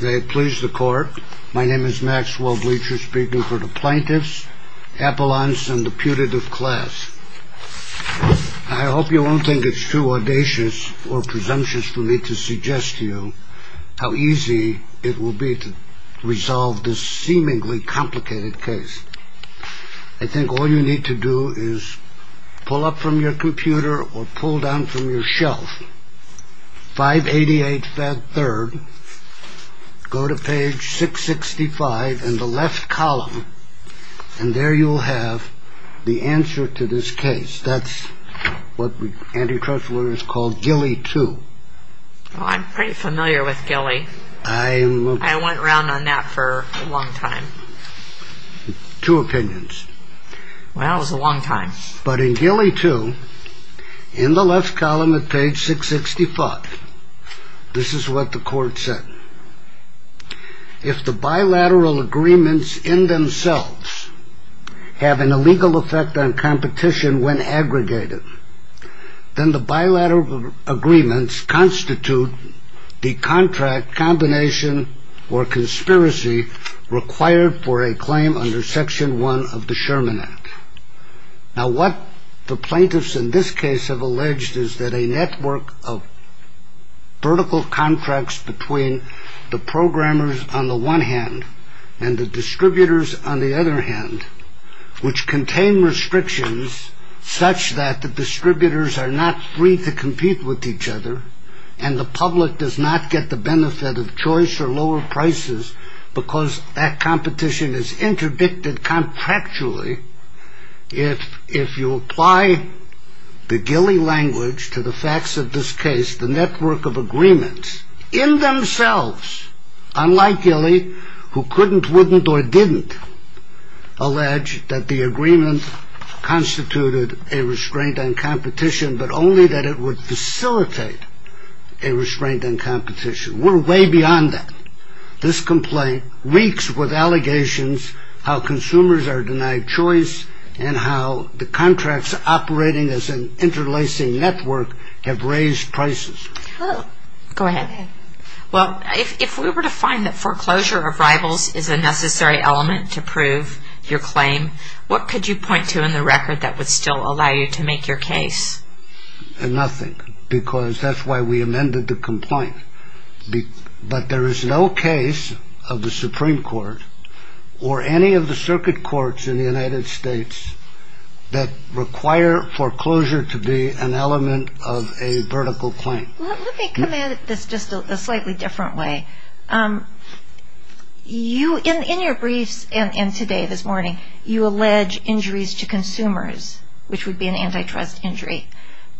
May it please the court, my name is Maxwell Bleacher speaking for the plaintiffs, appellants and the putative class. I hope you won't think it's too audacious or presumptuous for me to suggest to you how easy it will be to resolve this seemingly complicated case. I think all you need to do is pull up from your computer or pull down from your shelf, 588 3rd, go to page 665 in the left column and there you'll have the answer to this case. That's what Andy Kressler has called Gilly 2. I'm pretty familiar with Gilly. I went around on that for a long time. Two opinions. Well, that was a long time. But in Gilly 2, in the left column at page 665, this is what the court said. If the bilateral agreements in themselves have an illegal effect on competition when aggregated, then the bilateral agreements constitute the contract combination or conspiracy required for a claim under Section one of the Sherman Act. Now, what the plaintiffs in this case have alleged is that a network of vertical contracts between the programmers on the one hand and the distributors on the other hand, which contain restrictions such that the distributors are not free to compete with each other and the public does not get the benefit of choice or lower prices because that competition is interdicted contractually. If you apply the Gilly language to the facts of this case, the network of agreements in themselves, unlike Gilly, who couldn't, wouldn't or didn't allege that the agreement constituted a restraint on competition, but only that it would facilitate a restraint on competition. We're way beyond that. This complaint reeks with allegations how consumers are denied choice and how the contracts operating as an interlacing network have raised prices. Go ahead. Well, if we were to find that foreclosure of rivals is a necessary element to prove your claim, what could you point to in the record that would still allow you to make your case? Nothing, because that's why we amended the complaint. But there is no case of the Supreme Court or any of the circuit courts in the United States that require foreclosure to be an element of a vertical claim. Let me come at this just a slightly different way. You, in your briefs and today, this morning, you allege injuries to consumers, which would be an antitrust injury.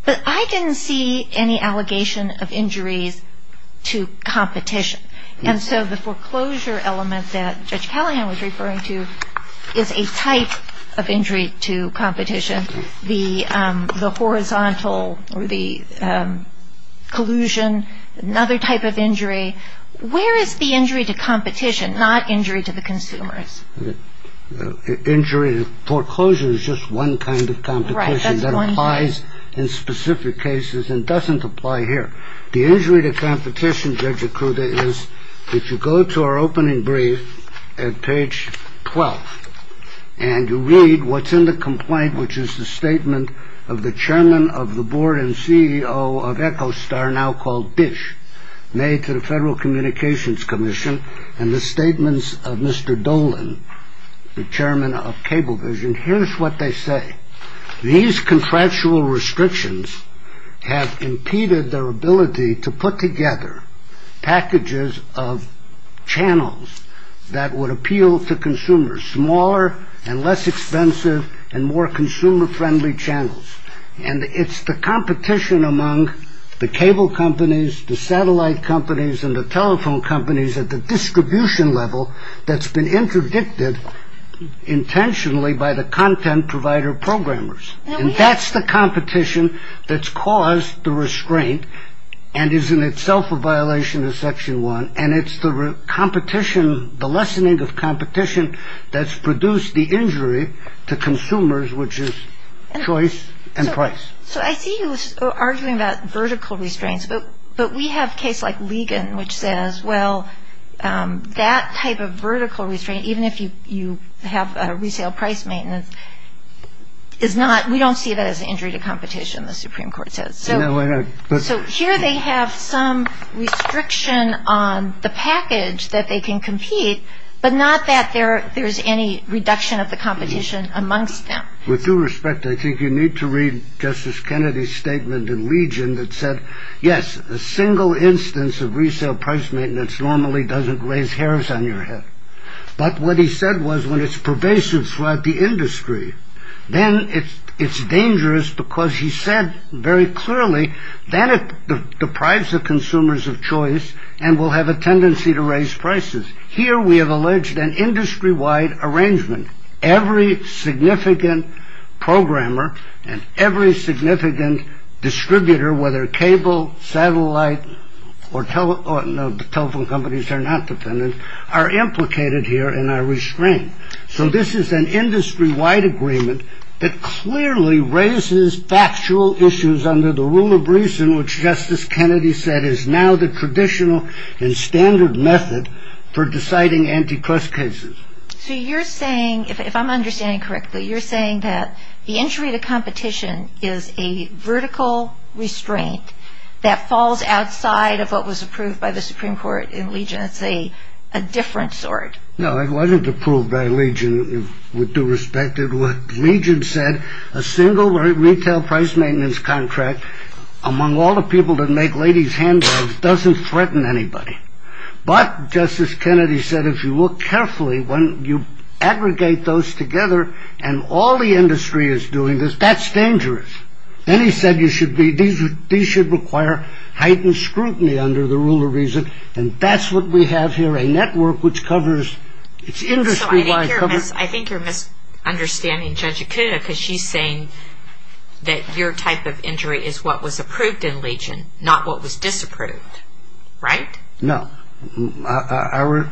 But I didn't see any allegation of injuries to competition. And so the foreclosure element that Judge Callahan was referring to is a type of injury to competition, the horizontal or the collusion, another type of injury. Where is the injury to competition, not injury to the consumers? Injury to foreclosure is just one kind of competition that applies in specific cases and doesn't apply here. The injury to competition, Judge Ikuda, is if you go to our opening brief at page 12 and you read what's in the complaint, which is the statement of the chairman of the board and CEO of Echostar, now called Dish, made to the Federal Communications Commission and the statements of Mr. Dolan, the chairman of Cablevision. Here's what they say. These contractual restrictions have impeded their ability to put together packages of channels that would appeal to consumers, smaller and less expensive and more consumer friendly channels. And it's the competition among the cable companies, the satellite companies and the telephone companies at the distribution level that's been interdicted intentionally by the content provider programmers. And that's the competition that's caused the restraint and is in itself a violation of Section 1. And it's the competition, the lessening of competition that's produced the injury to consumers, which is choice and price. So I see you arguing about vertical restraints, but we have case like Ligon, which says, well, that type of vertical restraint, even if you have resale price maintenance, is not, we don't see that as an injury to competition, the Supreme Court says. So here they have some restriction on the package that they can compete, but not that there's any reduction of the competition amongst them. With due respect, I think you need to read Justice Kennedy's statement in Legion that said, yes, a single instance of resale price maintenance normally doesn't raise hairs on your head. But what he said was when it's pervasive throughout the industry, then it's dangerous because he said very clearly, then it deprives the consumers of choice and will have a tendency to raise prices. Here we have alleged an industry wide arrangement. Every significant programmer and every significant distributor, whether cable, satellite or telephone companies are not dependent, are implicated here and are restrained. So this is an industry wide agreement that clearly raises factual issues under the rule of reason, which Justice Kennedy said is now the traditional and standard method for deciding antitrust cases. So you're saying, if I'm understanding correctly, you're saying that the injury to competition is a vertical restraint that falls outside of what was approved by the Supreme Court in Legion. It's a different sort. No, it wasn't approved by Legion with due respect. Legion said a single retail price maintenance contract among all the people that make ladies handbags doesn't threaten anybody. But Justice Kennedy said if you look carefully, when you aggregate those together and all the industry is doing this, that's dangerous. Then he said these should require heightened scrutiny under the rule of reason. And that's what we have here, a network which covers, it's industry wide. I think you're misunderstanding Judge Akuda because she's saying that your type of injury is what was approved in Legion, not what was disapproved. Right? No. Are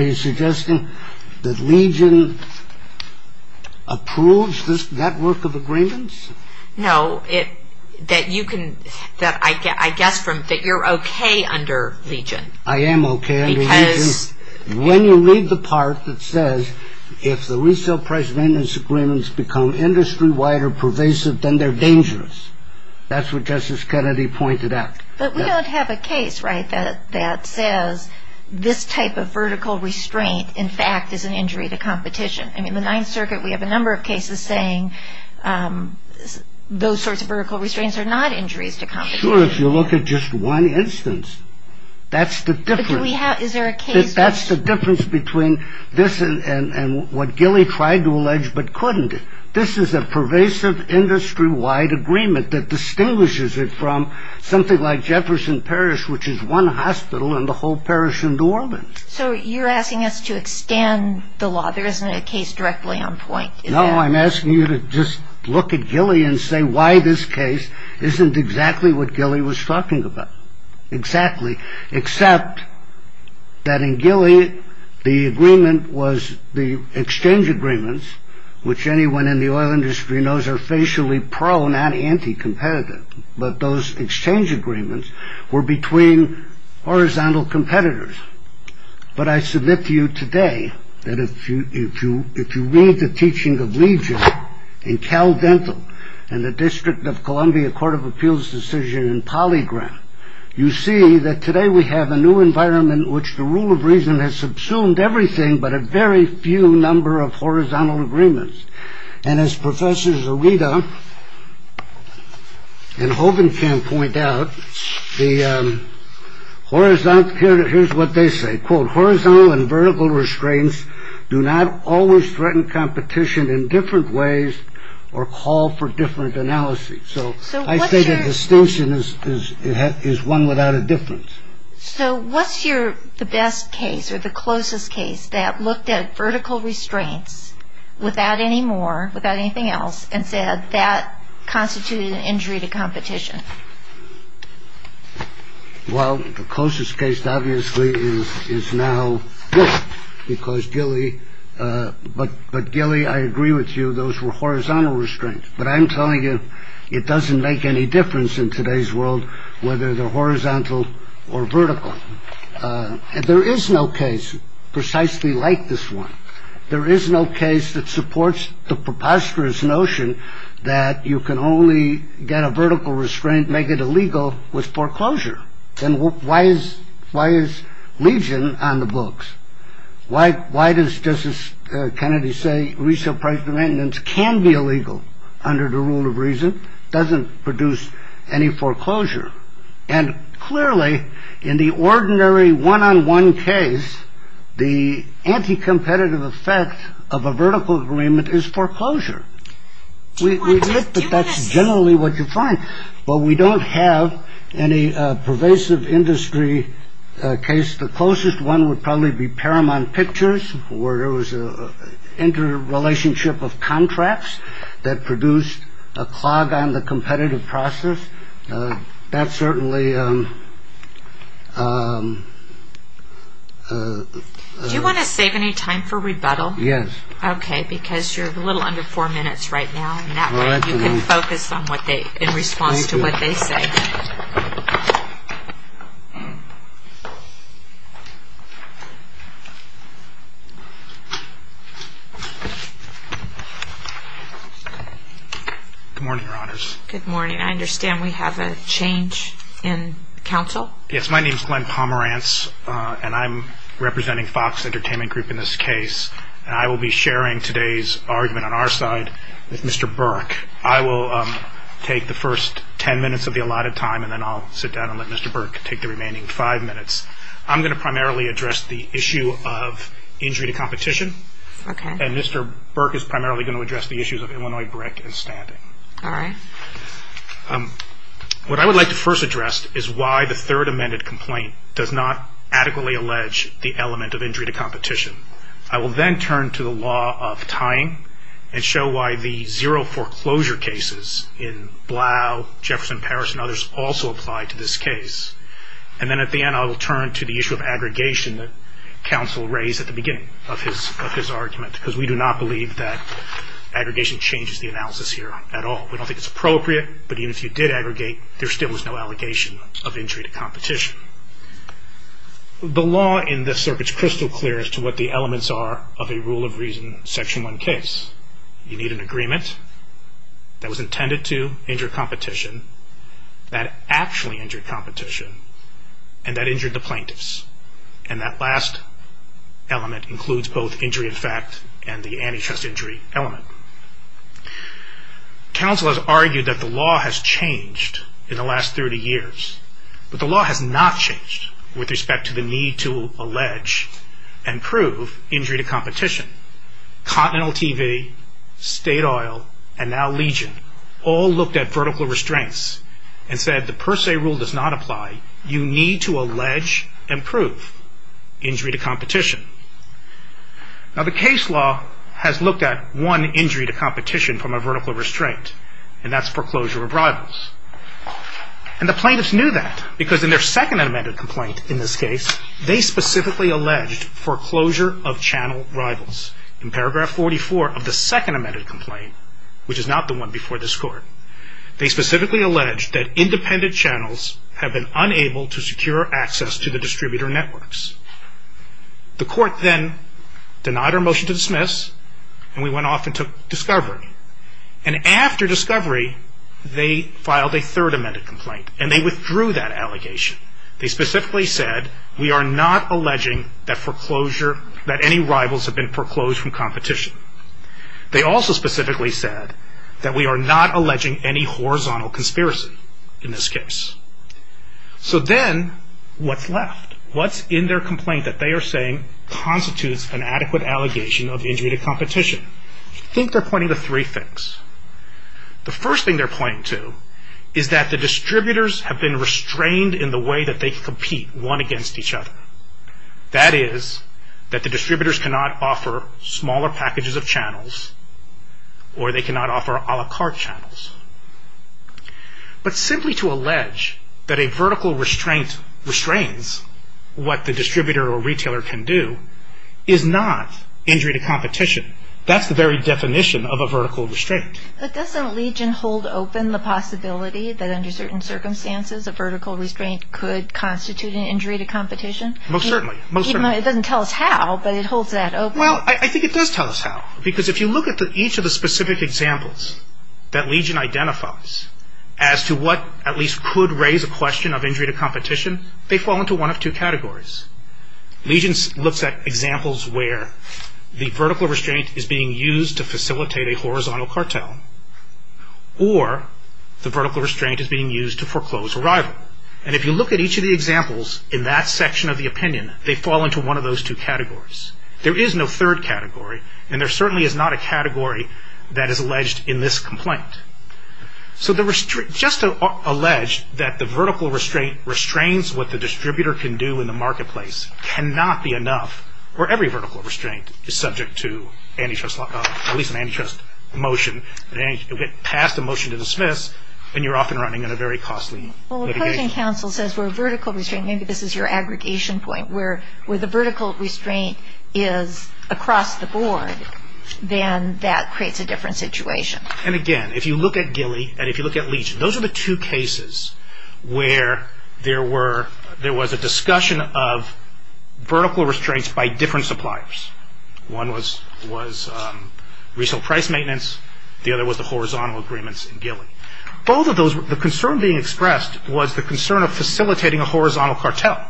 you suggesting that Legion approves this network of agreements? No. I guess that you're okay under Legion. I am okay under Legion. When you read the part that says, if the retail price maintenance agreements become industry wide or pervasive, then they're dangerous. That's what Justice Kennedy pointed out. But we don't have a case, right, that says this type of vertical restraint, in fact, is an injury to competition. I mean, the Ninth Circuit, we have a number of cases saying those sorts of vertical restraints are not injuries to competition. Sure, if you look at just one instance. That's the difference. But do we have, is there a case? That's the difference between this and what Gilley tried to allege but couldn't. This is a pervasive industry wide agreement that distinguishes it from something like Jefferson Parish, which is one hospital in the whole parish in New Orleans. So you're asking us to extend the law. There isn't a case directly on point. No, I'm asking you to just look at Gilley and say why this case isn't exactly what Gilley was talking about. Exactly. Except that in Gilley, the agreement was the exchange agreements, which anyone in the oil industry knows are facially prone and anti-competitive. But those exchange agreements were between horizontal competitors. But I submit to you today that if you if you if you read the teaching of Legion in Cal Dental and the District of Columbia Court of Appeals decision in polygram, you see that today we have a new environment in which the rule of reason has subsumed everything, but a very few number of horizontal agreements. And as professors Arita and Hogan can point out, the horizontal. Here's what they say. Quote, horizontal and vertical restraints do not always threaten competition in different ways or call for different analysis. So I say that the station is it is one without a difference. So what's your the best case or the closest case that looked at vertical restraints without any more, without anything else, and said that constituted an injury to competition? Well, the closest case, obviously, is is now because Gilley. But but Gilley, I agree with you. Those were horizontal restraints. But I'm telling you, it doesn't make any difference in today's world whether they're horizontal or vertical. And there is no case precisely like this one. There is no case that supports the preposterous notion that you can only get a vertical restraint, make it illegal with foreclosure. And why is why is Legion on the books? Why? Why does Justice Kennedy say resale price maintenance can be illegal under the rule of reason? Doesn't produce any foreclosure. And clearly in the ordinary one on one case, the anti competitive effect of a vertical agreement is foreclosure. We think that that's generally what you find. Well, we don't have any pervasive industry case. The closest one would probably be paramount pictures where it was a interrelationship of contracts that produced a clog on the competitive process. That's certainly. Do you want to save any time for rebuttal? Yes. OK, because you're a little under four minutes right now. Now you can focus on what they in response to what they say. Good morning, your honors. Good morning. I understand we have a change in counsel. Yes, my name's Glenn Pomerantz and I'm representing Fox Entertainment Group in this case. I will be sharing today's argument on our side with Mr. Burke. I will take the first 10 minutes of the allotted time and then I'll sit down and let Mr. Burke take the remaining five minutes. I'm going to primarily address the issue of injury to competition. OK. And Mr. Burke is primarily going to address the issues of Illinois brick and standing. All right. What I would like to first address is why the third amended complaint does not adequately allege the element of injury to competition. I will then turn to the law of tying and show why the zero foreclosure cases in Blau, Jefferson, Paris and others also apply to this case. And then at the end, I will turn to the issue of aggregation that counsel raised at the beginning of his argument, because we do not believe that aggregation changes the analysis here at all. We don't think it's appropriate, but even if you did aggregate, there still was no allegation of injury to competition. The law in this circuit is crystal clear as to what the elements are of a rule of reason section one case. You need an agreement that was intended to injure competition, that actually injured competition, and that injured the plaintiffs. And that last element includes both injury in fact and the antitrust injury element. Counsel has argued that the law has changed in the last 30 years, but the law has not changed with respect to the need to allege and prove injury to competition. Continental TV, State Oil and now Legion all looked at vertical restraints and said the per se rule does not apply. You need to allege and prove injury to competition. Now the case law has looked at one injury to competition from a vertical restraint, and that's foreclosure of rivals. And the plaintiffs knew that, because in their second amended complaint in this case, they specifically alleged foreclosure of channel rivals. In paragraph 44 of the second amended complaint, which is not the one before this court, they specifically alleged that independent channels have been unable to secure access to the distributor networks. The court then denied our motion to dismiss, and we went off and took discovery. And after discovery, they filed a third amended complaint, and they withdrew that allegation. They specifically said we are not alleging that foreclosure, that any rivals have been foreclosed from competition. They also specifically said that we are not alleging any horizontal conspiracy in this case. So then what's left? What's in their complaint that they are saying constitutes an adequate allegation of injury to competition? I think they're pointing to three things. The first thing they're pointing to is that the distributors have been restrained in the way that they compete, one against each other. That is that the distributors cannot offer smaller packages of channels, or they cannot offer a la carte channels. But simply to allege that a vertical restraint restrains what the distributor or retailer can do is not injury to competition. That's the very definition of a vertical restraint. But doesn't Legion hold open the possibility that under certain circumstances, a vertical restraint could constitute an injury to competition? Most certainly. It doesn't tell us how, but it holds that open. Well, I think it does tell us how, because if you look at each of the specific examples that Legion identifies as to what at least could raise a question of injury to competition, they fall into one of two categories. Legion looks at examples where the vertical restraint is being used to facilitate a horizontal cartel, or the vertical restraint is being used to foreclose a rival. And if you look at each of the examples in that section of the opinion, they fall into one of those two categories. There is no third category, and there certainly is not a category that is alleged in this complaint. So just to allege that the vertical restraint restrains what the distributor can do in the marketplace cannot be enough, or every vertical restraint is subject to at least an antitrust motion. It would get passed a motion to dismiss, and you're off and running on a very costly litigation. Well, the closing counsel says for a vertical restraint, maybe this is your aggregation point, but where the vertical restraint is across the board, then that creates a different situation. And again, if you look at Gilly and if you look at Legion, those are the two cases where there was a discussion of vertical restraints by different suppliers. One was retail price maintenance, the other was the horizontal agreements in Gilly. Both of those, the concern being expressed was the concern of facilitating a horizontal cartel.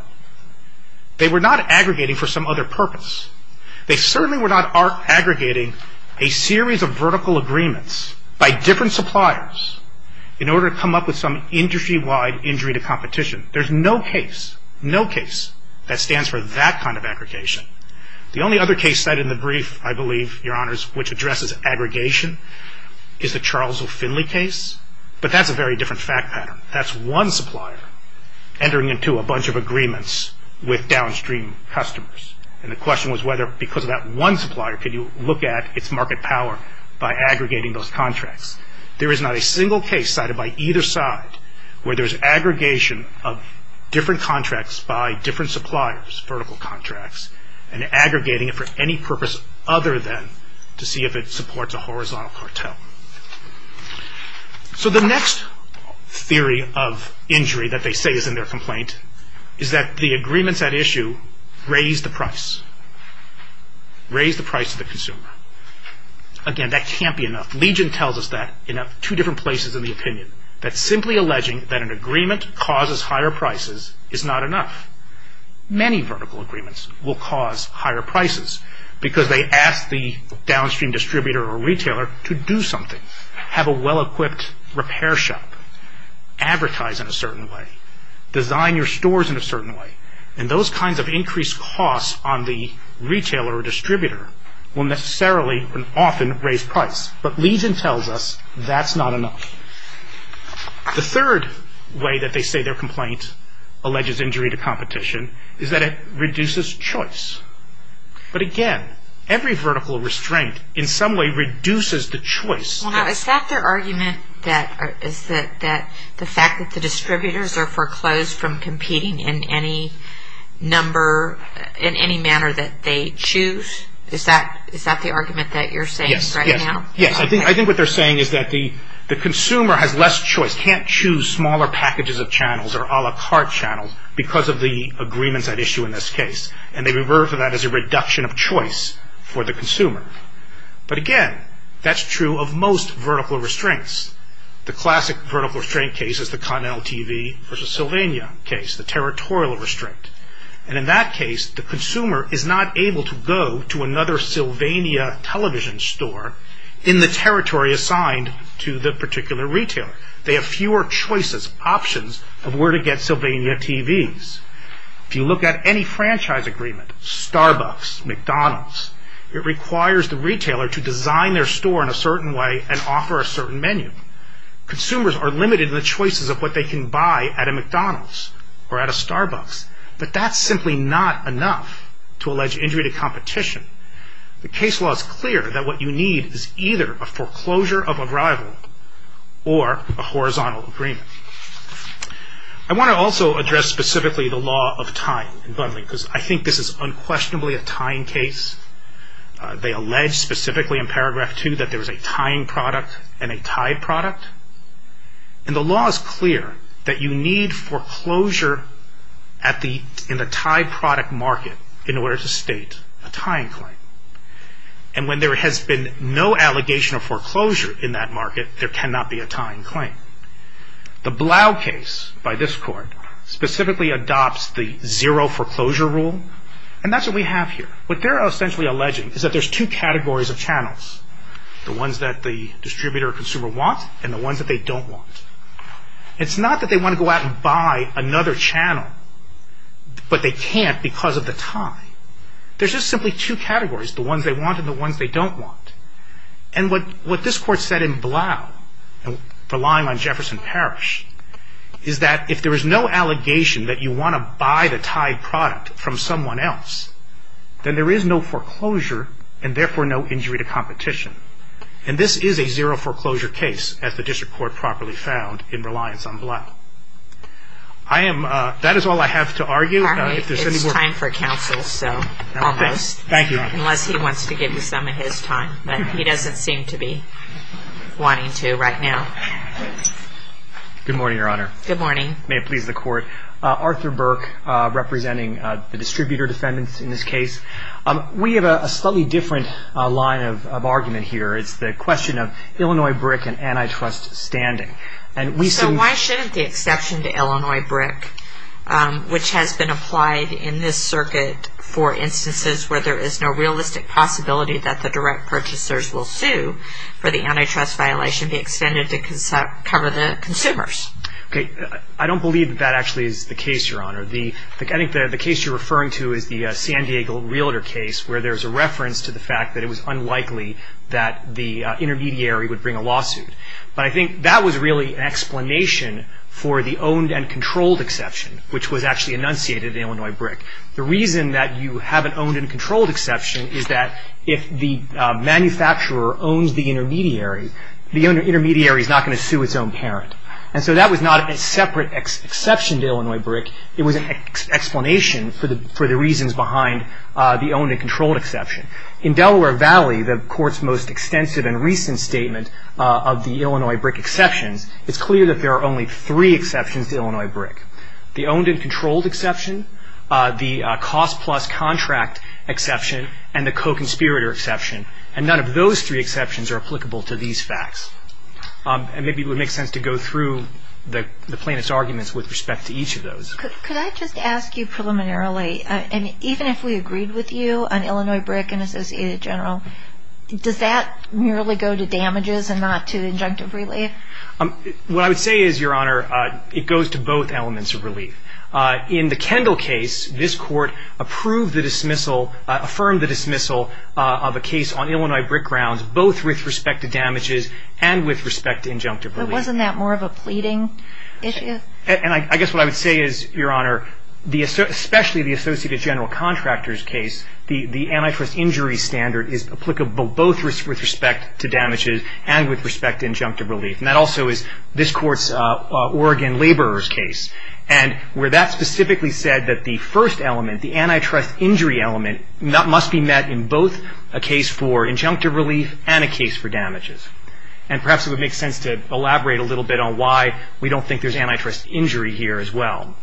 They were not aggregating for some other purpose. They certainly were not aggregating a series of vertical agreements by different suppliers in order to come up with some industry-wide injury to competition. There's no case, no case that stands for that kind of aggregation. The only other case cited in the brief, I believe, Your Honors, which addresses aggregation, is the Charles O. Finley case, but that's a very different fact pattern. That's one supplier entering into a bunch of agreements with downstream customers, and the question was whether because of that one supplier could you look at its market power by aggregating those contracts. There is not a single case cited by either side where there's aggregation of different contracts by different suppliers, vertical contracts, and aggregating it for any purpose other than to see if it supports a horizontal cartel. The next theory of injury that they say is in their complaint is that the agreements at issue raise the price, raise the price of the consumer. Again, that can't be enough. Legion tells us that in two different places in the opinion, that simply alleging that an agreement causes higher prices is not enough. Many vertical agreements will cause higher prices because they ask the downstream distributor or retailer to do something, have a well-equipped repair shop, advertise in a certain way, design your stores in a certain way, and those kinds of increased costs on the retailer or distributor will necessarily and often raise price. But Legion tells us that's not enough. The third way that they say their complaint alleges injury to competition is that it reduces choice. But again, every vertical restraint in some way reduces the choice. Well, now, is that their argument that the fact that the distributors are foreclosed from competing in any number, in any manner that they choose? Is that the argument that you're saying right now? Yes, yes. I think what they're saying is that the consumer has less choice, can't choose smaller packages of channels or a la carte channels because of the agreements at issue in this case, and they refer to that as a reduction of choice for the consumer. But again, that's true of most vertical restraints. The classic vertical restraint case is the Continental TV versus Sylvania case, the territorial restraint. And in that case, the consumer is not able to go to another Sylvania television store in the territory assigned to the particular retailer. They have fewer choices, options of where to get Sylvania TVs. If you look at any franchise agreement, Starbucks, McDonald's, it requires the retailer to design their store in a certain way and offer a certain menu. Consumers are limited in the choices of what they can buy at a McDonald's or at a Starbucks. But that's simply not enough to allege injury to competition. The case law is clear that what you need is either a foreclosure of arrival or a horizontal agreement. I want to also address specifically the law of time in Bundling because I think this is unquestionably a tying case. They allege specifically in paragraph 2 that there is a tying product and a tied product. And the law is clear that you need foreclosure in the tied product market in order to state a tying claim. And when there has been no allegation of foreclosure in that market, there cannot be a tying claim. The Blau case by this court specifically adopts the zero foreclosure rule, and that's what we have here. What they're essentially alleging is that there's two categories of channels, the ones that the distributor or consumer want and the ones that they don't want. It's not that they want to go out and buy another channel, but they can't because of the tie. There's just simply two categories, the ones they want and the ones they don't want. And what this court said in Blau, relying on Jefferson Parish, is that if there is no allegation that you want to buy the tied product from someone else, then there is no foreclosure and therefore no injury to competition. And this is a zero foreclosure case, as the district court properly found in reliance on Blau. That is all I have to argue. It's time for counsel, so almost. Thank you. Unless he wants to give you some of his time, but he doesn't seem to be wanting to right now. Good morning, Your Honor. Good morning. May it please the court. Arthur Burke representing the distributor defendants in this case. We have a slightly different line of argument here. It's the question of Illinois BRIC and antitrust standing. So why shouldn't the exception to Illinois BRIC, which has been applied in this circuit for instances where there is no realistic possibility that the direct purchasers will sue for the antitrust violation, be extended to cover the consumers? I don't believe that that actually is the case, Your Honor. I think the case you're referring to is the San Diego realtor case, where there's a reference to the fact that it was unlikely that the intermediary would bring a lawsuit. But I think that was really an explanation for the owned and controlled exception, which was actually enunciated in Illinois BRIC. The reason that you have an owned and controlled exception is that if the manufacturer owns the intermediary, the intermediary is not going to sue its own parent. And so that was not a separate exception to Illinois BRIC. It was an explanation for the reasons behind the owned and controlled exception. In Delaware Valley, the Court's most extensive and recent statement of the Illinois BRIC exceptions, it's clear that there are only three exceptions to Illinois BRIC. The owned and controlled exception, the cost plus contract exception, and the co-conspirator exception. And none of those three exceptions are applicable to these facts. And maybe it would make sense to go through the plaintiff's arguments with respect to each of those. Could I just ask you preliminarily, and even if we agreed with you on Illinois BRIC and Associated General, does that merely go to damages and not to injunctive relief? What I would say is, Your Honor, it goes to both elements of relief. In the Kendall case, this Court approved the dismissal, affirmed the dismissal of a case on Illinois BRIC grounds, both with respect to damages and with respect to injunctive relief. But wasn't that more of a pleading issue? And I guess what I would say is, Your Honor, especially the Associated General contractor's case, the antitrust injury standard is applicable both with respect to damages and with respect to injunctive relief. And that also is this Court's Oregon laborer's case. And where that specifically said that the first element, the antitrust injury element, that must be met in both a case for injunctive relief and a case for damages. And perhaps it would make sense to elaborate a little bit on why we don't think there's antitrust injury here as well.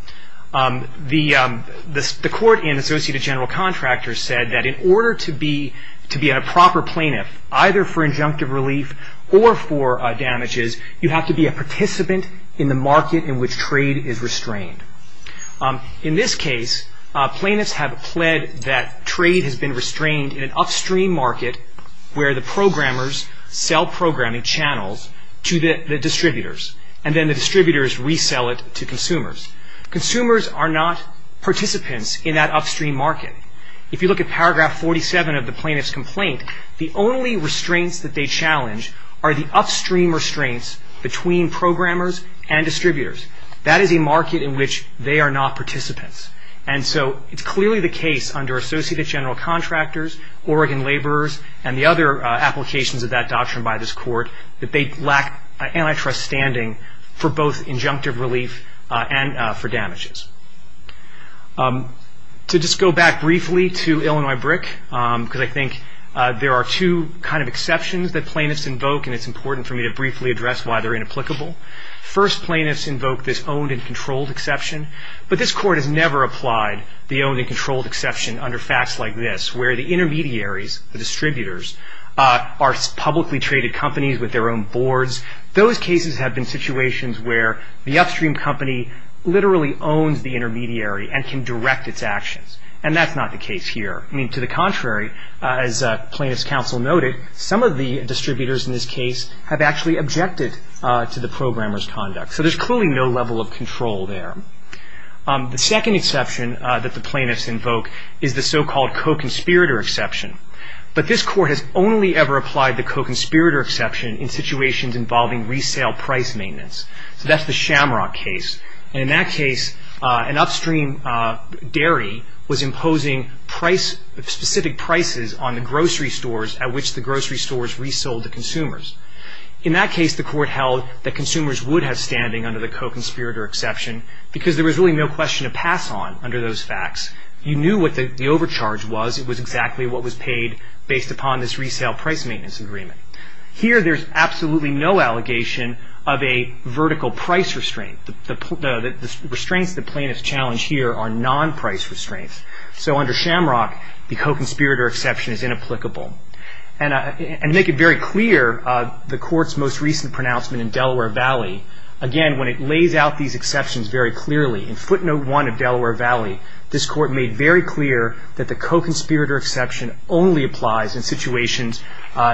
The Court in Associated General Contractors said that in order to be a proper plaintiff, either for injunctive relief or for damages, you have to be a participant in the market in which trade is restrained. In this case, plaintiffs have pled that trade has been restrained in an upstream market where the programmers sell programming channels to the distributors. And then the distributors resell it to consumers. Consumers are not participants in that upstream market. If you look at paragraph 47 of the plaintiff's complaint, the only restraints that they challenge are the upstream restraints between programmers and distributors. That is a market in which they are not participants. And so it's clearly the case under Associated General Contractors, Oregon Laborers, and the other applications of that doctrine by this Court, that they lack antitrust standing for both injunctive relief and for damages. To just go back briefly to Illinois BRIC, because I think there are two kind of exceptions that plaintiffs invoke, and it's important for me to briefly address why they're inapplicable. First, plaintiffs invoke this owned and controlled exception. But this Court has never applied the owned and controlled exception under facts like this, where the intermediaries, the distributors, are publicly traded companies with their own boards. Those cases have been situations where the upstream company literally owns the intermediary and can direct its actions. And that's not the case here. I mean, to the contrary, as plaintiffs' counsel noted, some of the distributors in this case have actually objected to the programmers' conduct. So there's clearly no level of control there. The second exception that the plaintiffs invoke is the so-called co-conspirator exception. But this Court has only ever applied the co-conspirator exception in situations involving resale price maintenance. So that's the Shamrock case. And in that case, an upstream dairy was imposing specific prices on the grocery stores at which the grocery stores resold to consumers. In that case, the Court held that consumers would have standing under the co-conspirator exception because there was really no question of pass-on under those facts. You knew what the overcharge was. It was exactly what was paid based upon this resale price maintenance agreement. Here, there's absolutely no allegation of a vertical price restraint. The restraints that plaintiffs challenge here are non-price restraints. So under Shamrock, the co-conspirator exception is inapplicable. And to make it very clear, the Court's most recent pronouncement in Delaware Valley, again, when it lays out these exceptions very clearly, in footnote 1 of Delaware Valley, this Court made very clear that the co-conspirator exception only applies in situations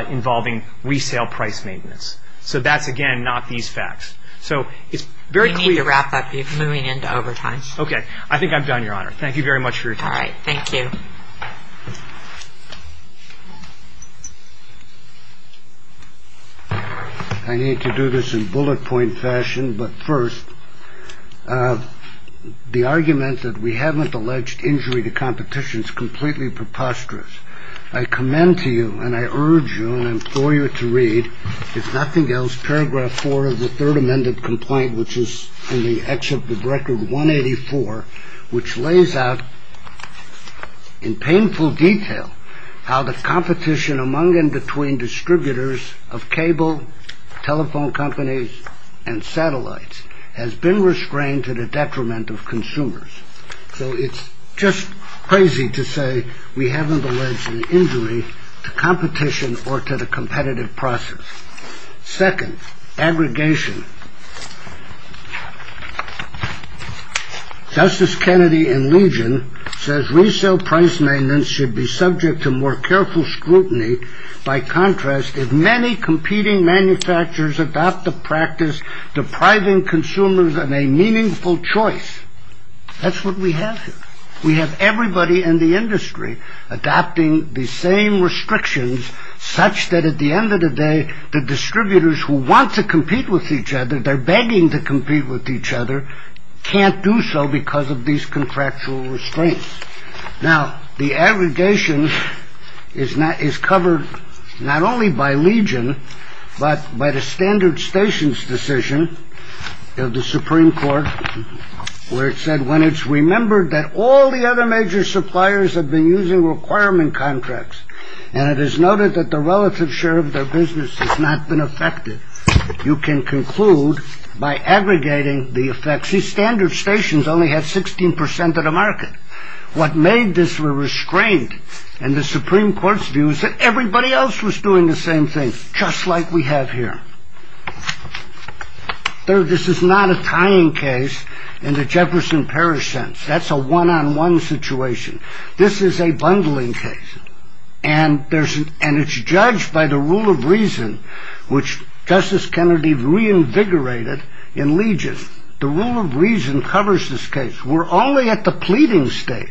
involving resale price maintenance. So that's, again, not these facts. So it's very clear. We need to wrap up. You're moving into overtime. Okay. I think I'm done, Your Honor. Thank you very much for your time. All right. Thank you. I need to do this in bullet point fashion. But first, the argument that we haven't alleged injury to competition is completely preposterous. I commend to you and I urge you and I implore you to read, if nothing else, paragraph 4 of the Third Amended Complaint, which is in the Exhibit Record 184, which lays out in painful detail how the competition among and between distributors of cable, telephone companies, and satellites has been restrained to the detriment of consumers. So it's just crazy to say we haven't alleged an injury to competition or to the competitive process. Second, aggregation. Justice Kennedy in Legion says resale price maintenance should be subject to more careful scrutiny. By contrast, if many competing manufacturers adopt the practice depriving consumers of a meaningful choice, that's what we have here. We have everybody in the industry adopting the same restrictions such that at the end of the day, the distributors who want to compete with each other, they're begging to compete with each other, can't do so because of these contractual restraints. Now, the aggregation is not is covered not only by Legion, but by the standard stations decision of the Supreme Court, where it said when it's remembered that all the other major suppliers have been using requirement contracts and it is noted that the relative share of their business has not been affected. You can conclude by aggregating the effects. These standard stations only have 16 percent of the market. What made this were restrained and the Supreme Court's views that everybody else was doing the same thing, just like we have here. Third, this is not a tying case in the Jefferson Parish sense. That's a one-on-one situation. This is a bundling case. And it's judged by the rule of reason, which Justice Kennedy reinvigorated in Legion. The rule of reason covers this case. We're only at the pleading stage.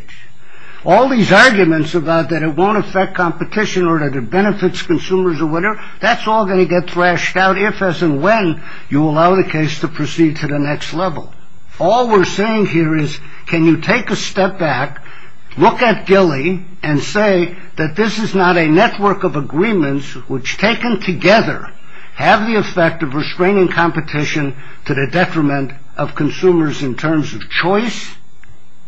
All these arguments about that it won't affect competition or that it benefits consumers or whatever, that's all going to get thrashed out if, as in when, you allow the case to proceed to the next level. All we're saying here is can you take a step back, look at Gilly, and say that this is not a network of agreements which, taken together, have the effect of restraining competition to the detriment of consumers in terms of choice.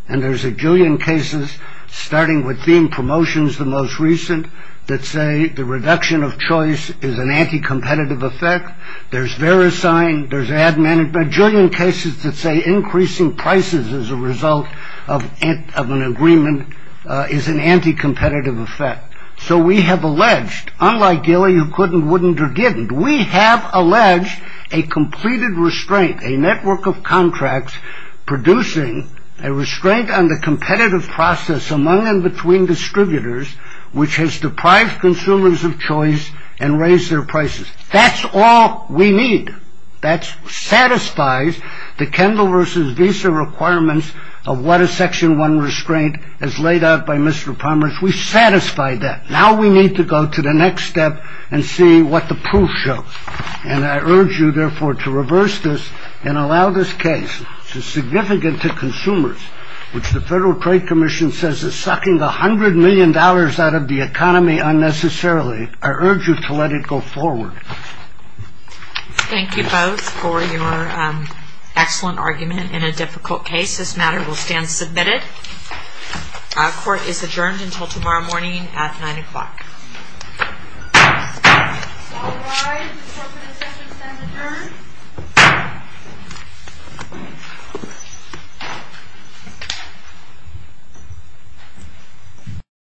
And there's a jillion cases, starting with theme promotions the most recent, that say the reduction of choice is an anti-competitive effect. There's Verisign. There's Adman. A jillion cases that say increasing prices as a result of an agreement is an anti-competitive effect. So we have alleged, unlike Gilly, who couldn't, wouldn't or didn't, we have alleged a completed restraint, a network of contracts, producing a restraint on the competitive process among and between distributors, which has deprived consumers of choice and raised their prices. That's all we need. That satisfies the Kendall versus Visa requirements of what a Section 1 restraint as laid out by Mr. Pomerance. We satisfy that. Now we need to go to the next step and see what the proof shows. And I urge you, therefore, to reverse this and allow this case, which is significant to consumers, which the Federal Trade Commission says is sucking $100 million out of the economy unnecessarily. I urge you to let it go forward. Thank you both for your excellent argument in a difficult case. This matter will stand submitted. All rise. The Court of Assessments has adjourned.